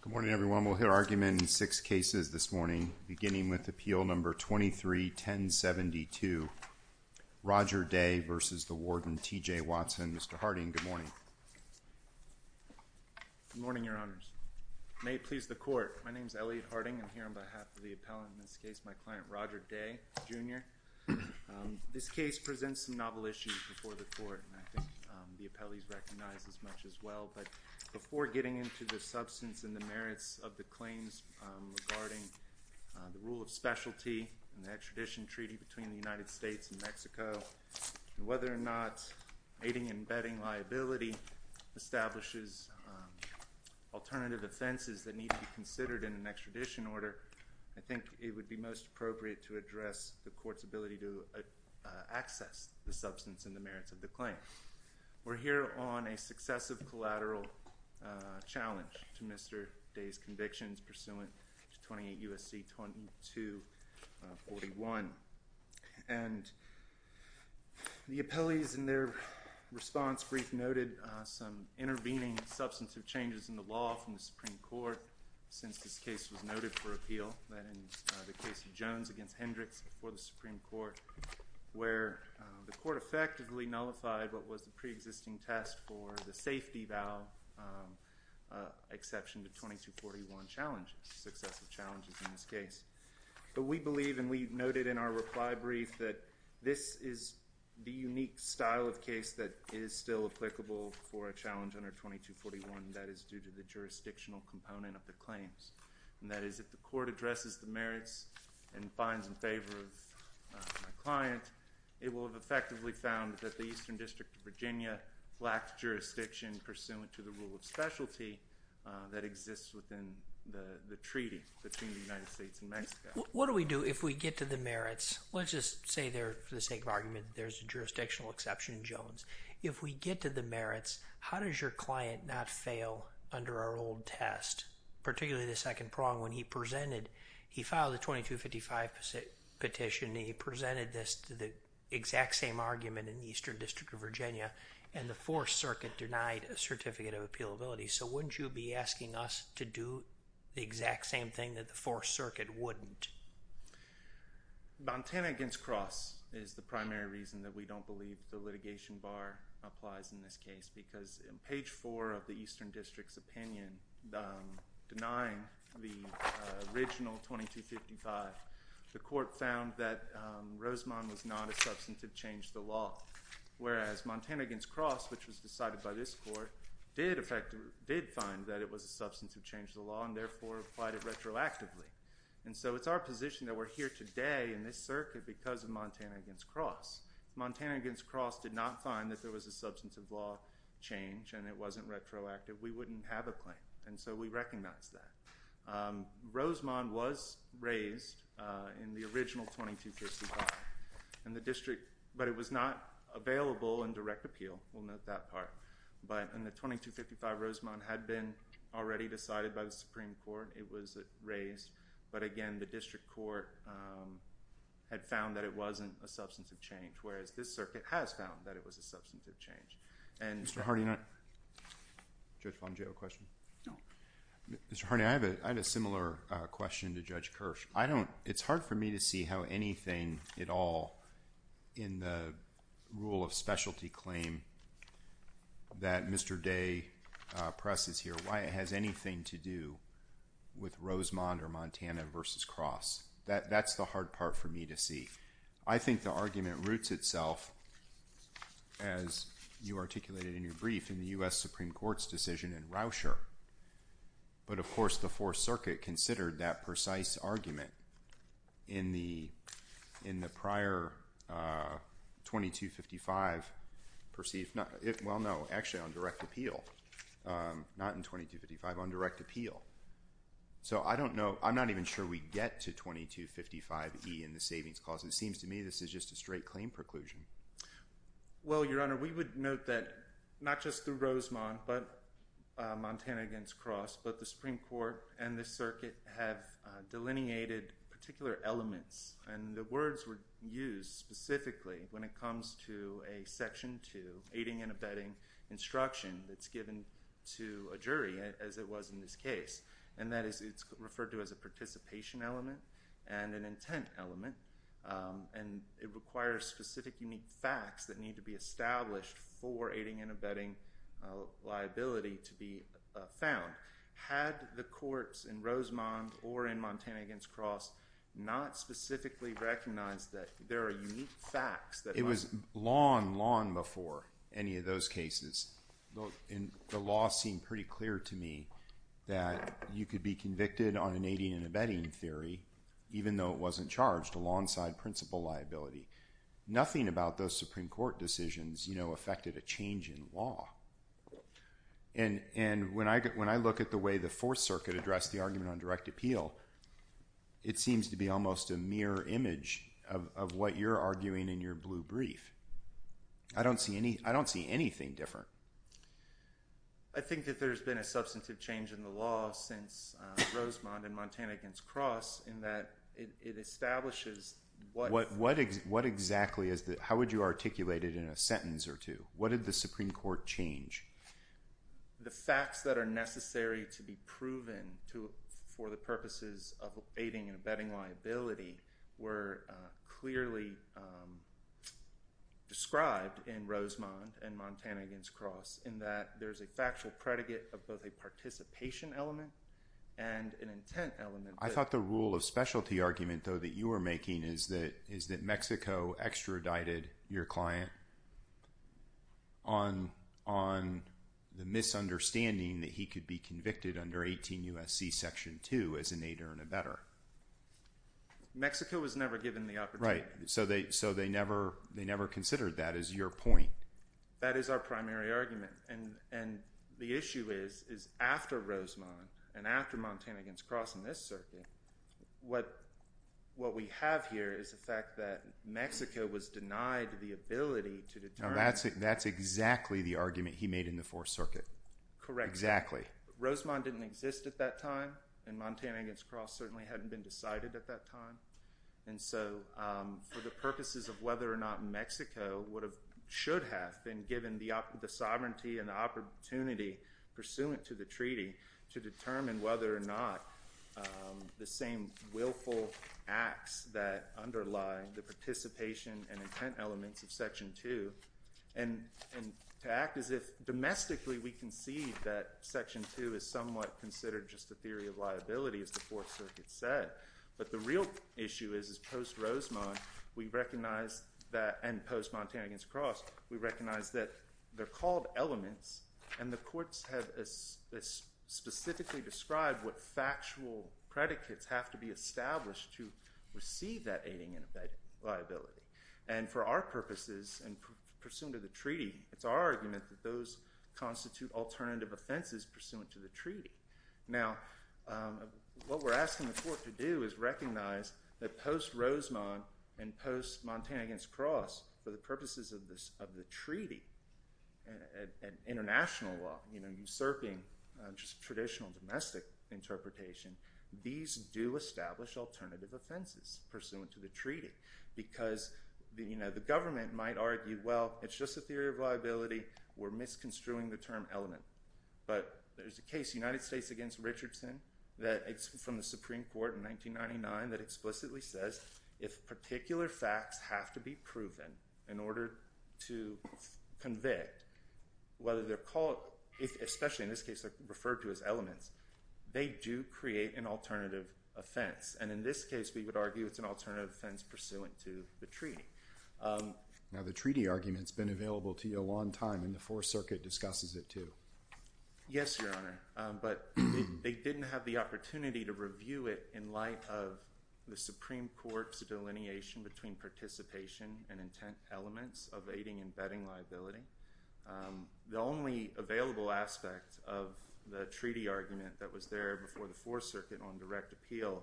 Good morning, everyone. We'll hear argument in six cases this morning, beginning with Appeal No. 23-1072, Roger Day v. the Warden T. J. Watson. Mr. Harding, good morning. Good morning, Your Honors. May it please the Court, my name is Elliot Harding. I'm here on behalf of the appellant in this case, my client Roger Day, Jr. This case presents some I think the appellees recognize this much as well, but before getting into the substance and the merits of the claims regarding the rule of specialty and the extradition treaty between the United States and Mexico, and whether or not aiding and abetting liability establishes alternative offenses that need to be considered in an extradition order, I think it would be most appropriate to address the Court's ability to access the substance and the merits of the claim. We're here on a successive collateral challenge to Mr. Day's convictions pursuant to 28 U.S.C. 2241. And the appellees in their response brief noted some intervening substantive changes in the law from the Supreme Court since this case was noted for appeal, that ends the case of Jones v. Hendricks before the Supreme Court, where the Court effectively nullified what was the pre-existing test for the safety vow exception to 2241 challenges, successive challenges in this case. But we believe, and we noted in our reply brief, that this is the unique style of case that is still applicable for a challenge under 2241, that is due to the jurisdictional component of the claims. And that is if the Court addresses the merits and finds in favor of my client, it will have effectively found that the Eastern District of Virginia lacks jurisdiction pursuant to the rule of specialty that exists within the treaty between the United States and Mexico. What do we do if we get to the merits? Let's just say there, for the sake of argument, there's a jurisdictional exception in Jones. If we get to the merits, how does your client not fail under our old test? Particularly the second prong, when he presented, he filed a 2255 petition, and he presented this to the exact same argument in the Eastern District of Virginia, and the Fourth Circuit denied a certificate of appealability. So wouldn't you be asking us to do the exact same thing that the Fourth Circuit wouldn't? Montana against Cross is the primary reason that we don't believe the litigation bar applies in this case, because in page 4 of the Eastern District's opinion denying the original 2255, the Court found that Rosemond was not a substantive change to the law, whereas Montana against Cross, which was decided by this Court, did find that it was a substantive change to the law, and therefore applied it retroactively. And so it's our position that we're here today in this circuit because of Montana against Cross. Montana against Cross did not find that there was a substantive law change, and it wasn't retroactive. We wouldn't have a claim, and so we recognize that. Rosemond was raised in the original 2255, but it was not available in direct appeal. We'll note that part. But in the 2255, Rosemond had been already decided by the Supreme Court. It was raised, but again, the District Court had found that it was a substantive change. Mr. Harney, I have a similar question to Judge Kirsch. It's hard for me to see how anything at all in the rule of specialty claim that Mr. Day presses here, why it has anything to do with Rosemond or Montana versus Cross. That's the hard part for me to see. I think the argument roots itself, as you articulated in your brief, in the U.S. Supreme Court's decision in Rousher. But of course, the Fourth Circuit considered that precise argument in the prior 2255 perceived, well, no, actually on direct appeal, not in 2255, on direct appeal. So I don't know, I'm not even sure we get to 2255E in the Savings Clause. It seems to me this is just a straight claim preclusion. Well, Your Honor, we would note that not just through Rosemond, but Montana against Cross, but the Supreme Court and the Circuit have delineated particular elements. And the words were used specifically when it comes to a Section 2, aiding and abetting instruction that's given to a jury, as it was in this case. And that is, it's referred to as a participation element and an intent element. And it requires specific, unique facts that need to be established for aiding and abetting liability to be found. Had the courts in Rosemond or in Montana against Cross not specifically recognized that there are unique facts that might— It was long, long before any of those cases. The law seemed pretty clear to me that you could be convicted on an aiding and abetting theory, even though it wasn't charged alongside principal liability. Nothing about those Supreme Court decisions affected a change in law. And when I look at the way the Fourth Circuit addressed the argument on direct appeal, it seems to be almost a mirror image of what you're arguing in your blue brief. I don't see anything different. I think that there's been a substantive change in the law since Rosemond and Montana against Cross in that it establishes what— What exactly is the—how would you articulate it in a sentence or two? What did the Supreme Court change? The facts that are necessary to be proven for the purposes of aiding and abetting liability were clearly described in Rosemond and Montana against Cross in that there's a factual predicate of both a participation element and an intent element. I thought the rule of specialty argument, though, that you were making is that Mexico extradited your client on the misunderstanding that he could be convicted under 18 U.S.C. Section 2 as an aider and abetter. Mexico was never given the opportunity. Right. So they never considered that as your point. That is our primary argument. And the issue is after Rosemond and after Montana against Cross in this circuit, what we have here is the fact that Mexico was denied the ability to determine— Now, that's exactly the argument he made in the Fourth Circuit. Correct. Exactly. But Rosemond didn't exist at that time, and Montana against Cross certainly hadn't been decided at that time. And so for the purposes of whether or not Mexico should have been given the sovereignty and the opportunity pursuant to the treaty to determine whether or not the same willful acts that underlie the participation and intent elements of Section 2, and to act as if domestically we concede that Section 2 is somewhat considered just a theory of liability, as the Fourth Circuit said. But the real issue is, is post-Rosemond, we recognize that—and post-Montana against Cross—we recognize that they're called elements, and the courts have specifically described what factual predicates have to be established to receive that aiding and abetting liability. And for our purposes and pursuant to the treaty, it's our argument that those constitute alternative offenses pursuant to the treaty. Now, what we're asking the court to do is recognize that post-Rosemond and post-Montana against Cross, for the purposes of the treaty and international law, you know, usurping just traditional domestic interpretation, these do establish alternative offenses pursuant to the treaty. Because, you know, the government might argue, well, it's just a theory of liability, we're misconstruing the term element. But there's a case, United States against Richardson, that it's from the Supreme Court in 1999 that explicitly says if particular facts have to be proven in order to convict, whether they're called—especially in this case referred to as elements—they do create an alternative offense. And in this case, we would argue it's an alternative offense pursuant to the treaty. Now, the treaty argument's been available to you a long time, and the Fourth Circuit discusses it too. Yes, Your Honor, but they didn't have the opportunity to review it in light of the Supreme Court's delineation between participation and intent elements of aiding and abetting liability. The only available aspect of the treaty argument that was there before the Fourth Circuit on direct appeal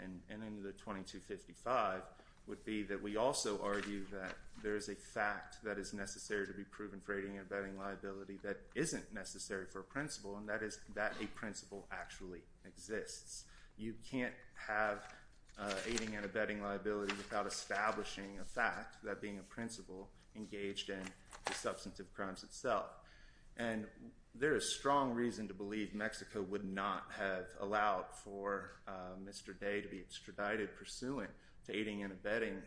and in the 2255 would be that we also argue that there is a fact that is necessary to be proven for aiding and abetting liability that isn't necessary for a principle, and that is that a principle actually exists. You can't have aiding and abetting liability without establishing a fact, that being a principle, engaged in the substantive crimes itself. And there is strong reason to believe Mexico would not have allowed for Mr. Day to be extradited pursuant to aiding and abetting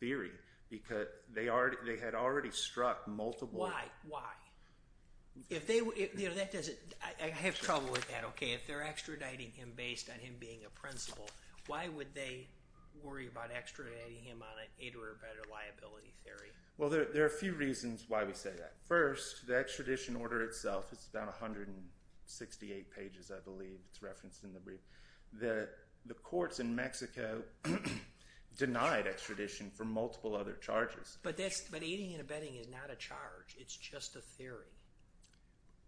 theory, because they had already struck multiple— Why? Why? I have trouble with that, okay? If they're extraditing him based on him being a principle, why would they worry about extraditing him on an aid or abetter liability theory? Well, there are a few reasons why we say that. First, the extradition order itself is about 168 pages, I believe. It's referenced in the brief. The courts in Mexico denied extradition for multiple other charges. But aiding and abetting is not a charge. It's just a theory.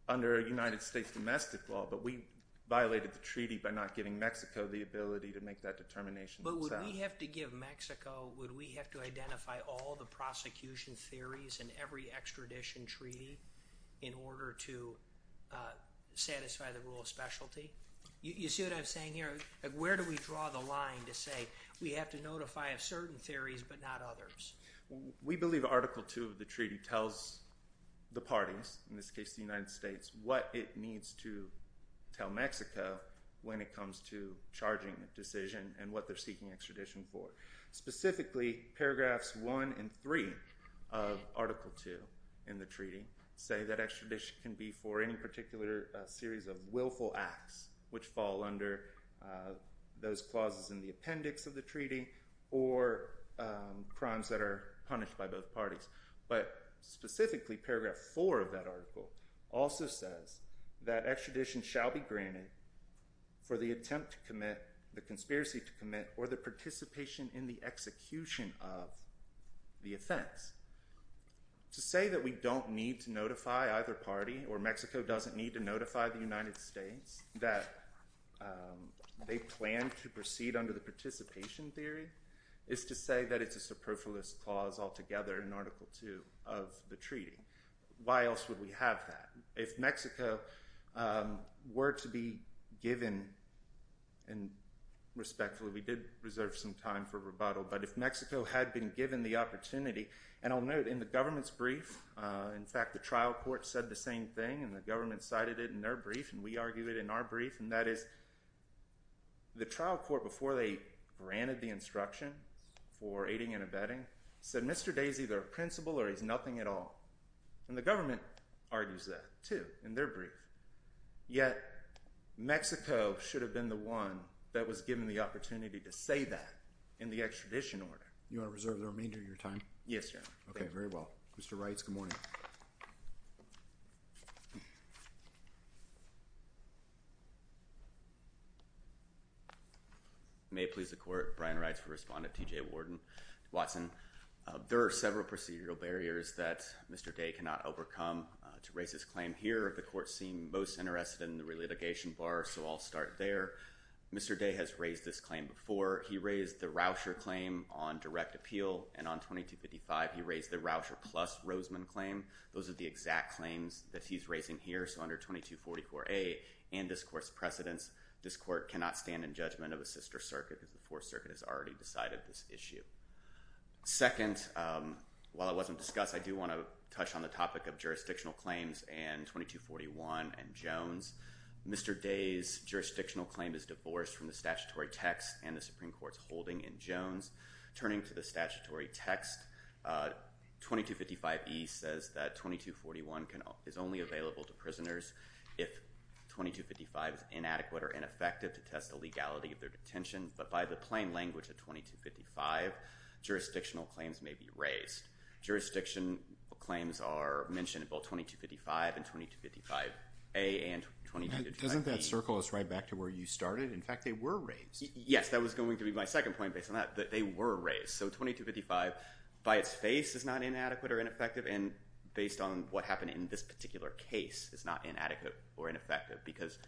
Under United States domestic law, but we violated the treaty by not giving Mexico the ability to make that determination themselves. But would we have to give Mexico—would we have to identify all the prosecution theories in every extradition treaty in order to satisfy the rule of specialty? You see what I'm saying here? Where do we draw the line to say we have to notify of certain theories but not others? We believe Article II of the treaty tells the parties, in this case the United States, what it needs to tell Mexico when it comes to charging the decision and what they're seeking extradition for. Specifically, paragraphs 1 and 3 of Article II in the treaty say that extradition can be for any particular series of willful acts which fall under those clauses in the appendix of the treaty or crimes that are punished by both parties. But specifically, paragraph 4 of that article also says that extradition shall be granted for the attempt to commit, the conspiracy to commit, or the participation in the execution of the offense. To say that we don't need to notify either party or Mexico doesn't need to notify the United States that they plan to proceed under the participation theory is to say that it's a superfluous clause altogether in Article II of the treaty. Why else would we have that? If Mexico were to be given, and respectfully we did reserve some time for rebuttal, but if Mexico had been given the opportunity, and I'll note in the government's brief, in fact the trial court said the same thing and the government cited it in their brief and we argued it in our brief, and that is the trial court, before they granted the instruction for aiding and abetting, said Mr. Day is either a principal or he's nothing at all. And the government argues that, too, in their brief. Yet, Mexico should have been the one that was given the opportunity to say that in the extradition order. You want to reserve the remainder of your time? Yes, Your Honor. Okay, very well. Mr. Reitz, good morning. May it please the Court, Brian Reitz for Respondent, TJ Watson. There are several procedural barriers that Mr. Day cannot overcome to raise his claim here. The Court seemed most interested in the re-litigation bar, so I'll start there. Mr. Day has raised this claim before. He raised the Rauscher claim on direct appeal, and on 2255 he raised the Rauscher plus Roseman claim. Those are the exact claims that he's raising here. So under 2244A and this Court's precedence, this Court cannot stand in judgment of a sister circuit because the Fourth Circuit has already decided this issue. Second, while it wasn't discussed, I do want to touch on the topic of jurisdictional claims and 2241 and Jones. Mr. Day's jurisdictional claim is divorced from the statutory text and the Supreme Court's holding in Jones. Turning to the statutory text, 2255E says that 2241 is only available to prisoners if the plaintiff's name is not mentioned. But by the plain language of 2255, jurisdictional claims may be raised. Jurisdiction claims are mentioned in both 2255 and 2255A and 2255E. Doesn't that circle us right back to where you started? In fact, they were raised. Yes, that was going to be my second point based on that, that they were raised. So 2255, by its face, is not inadequate or ineffective, and based on what happened in this particular case, is not inadequate or ineffective because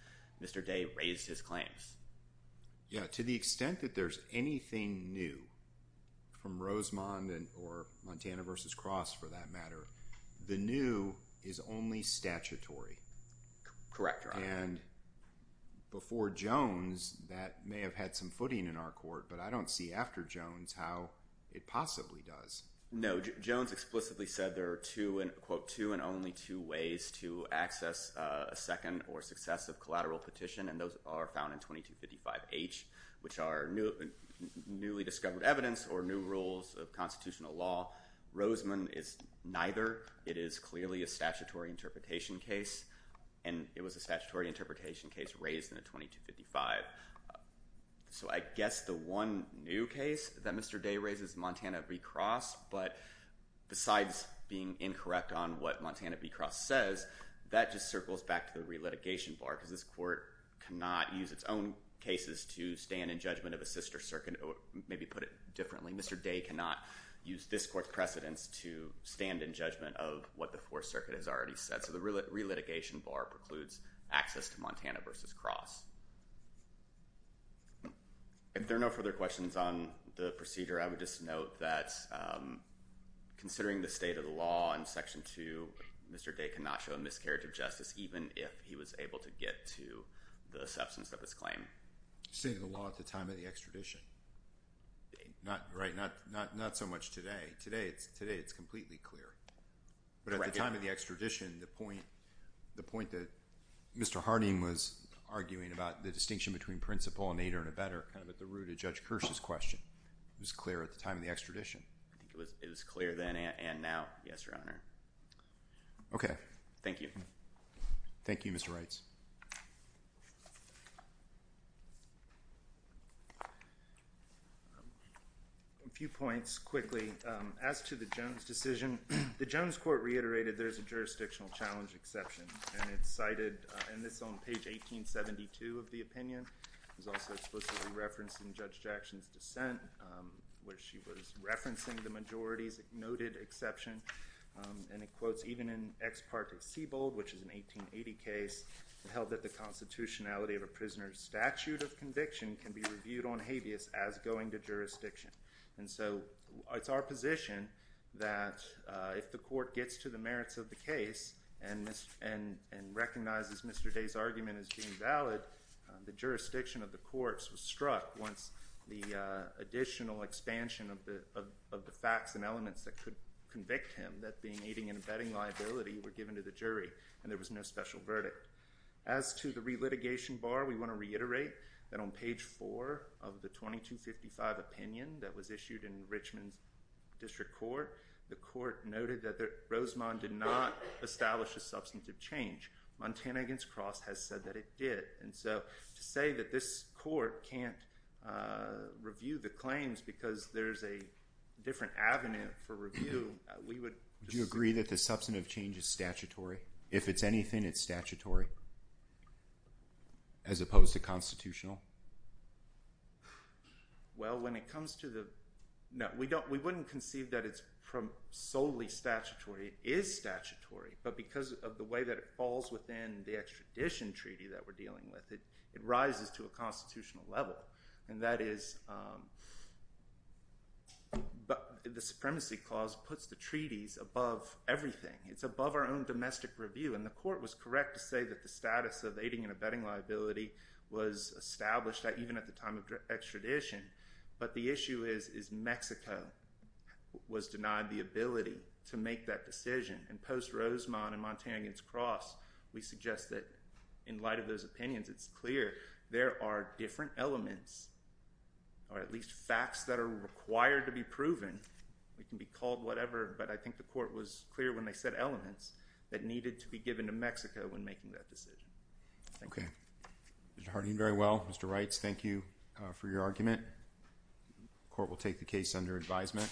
Mr. Day raised his claims. Yeah, to the extent that there's anything new from Rosemond or Montana v. Cross, for that matter, the new is only statutory. Correct, Your Honor. And before Jones, that may have had some footing in our court, but I don't see after Jones how it possibly does. No, Jones explicitly said there are two, quote, two and only two ways to access a second or successive collateral petition, and those are found in 2255H, which are newly discovered evidence or new rules of constitutional law. Rosemond is neither. It is clearly a statutory interpretation case, and it was a statutory interpretation case raised in the 2255. So I guess the one new case that Mr. Day raises, Montana v. Cross, but besides being incorrect on what Montana v. Cross says, that just circles back to the relitigation bar, because this court cannot use its own cases to stand in judgment of a sister circuit, or maybe put it differently, Mr. Day cannot use this court's precedents to stand in judgment of what the Fourth Circuit has already said. So the relitigation bar precludes access to Montana v. Cross. If there are no further questions on the procedure, I would just note that considering the state of the law in Section 2, Mr. Day cannot show a miscarriage of justice, even if he was able to get to the substance of his claim. State of the law at the time of the extradition? Right, not so much today. Today, it's completely clear. But at the time of the extradition, the point that Mr. Harding was arguing about, the distinction between principal and aider and abettor, kind of at the root of Judge Kirsch's question, it was clear at the time of the extradition. It was clear then and now, yes, Your Honor. Okay. Thank you. Thank you, Mr. Reitz. A few points quickly. As to the Jones decision, the Jones court reiterated there's a jurisdictional challenge exception, and it's cited, and it's on page 1872 of the opinion. It was also explicitly referenced in Judge Jackson's dissent, where she was referencing the majority's noted exception. And it quotes, even in Ex parte Siebold, which is an 1880 case, it held that the constitutionality of a prisoner's statute of conviction can be reviewed on habeas as going to jurisdiction. And so it's our position that if the court gets to the merits of the case and recognizes Mr. Day's argument as being valid, the jurisdiction of the courts was struck once the additional expansion of the facts and elements that could convict him, that being aiding and abetting liability, were given to the jury, and there was no special verdict. As to the relitigation bar, we want to reiterate that on page 4 of the 2255 opinion that was issued in Richmond District Court, the court noted that Rosemond did not establish a substantive change. Montana against Cross has said that it did. And so to say that this court can't review the claims because there's a different avenue for review, we would disagree. Do you agree that the substantive change is statutory? If it's anything, it's statutory, as opposed to constitutional? Well, when it comes to the—no, we wouldn't conceive that it's solely statutory. It is statutory, but because of the way that it falls within the extradition treaty that we're dealing with, it rises to a constitutional level. And that is—the Supremacy Clause puts the treaties above everything. It's above our own domestic review, and the court was correct to say that the status of aiding and abetting liability was established even at the time of extradition. But the issue is, is Mexico was denied the ability to make that decision. And post-Rosemond and Montana against Cross, we suggest that in light of those opinions, it's clear there are different elements, or at least facts that are required to be proven. It can be called whatever, but I think the court was clear when they said elements, that needed to be given to Mexico when making that decision. Thank you. Okay. Mr. Harding, very well. Mr. Reitz, thank you for your argument. The court will take the case under advisement.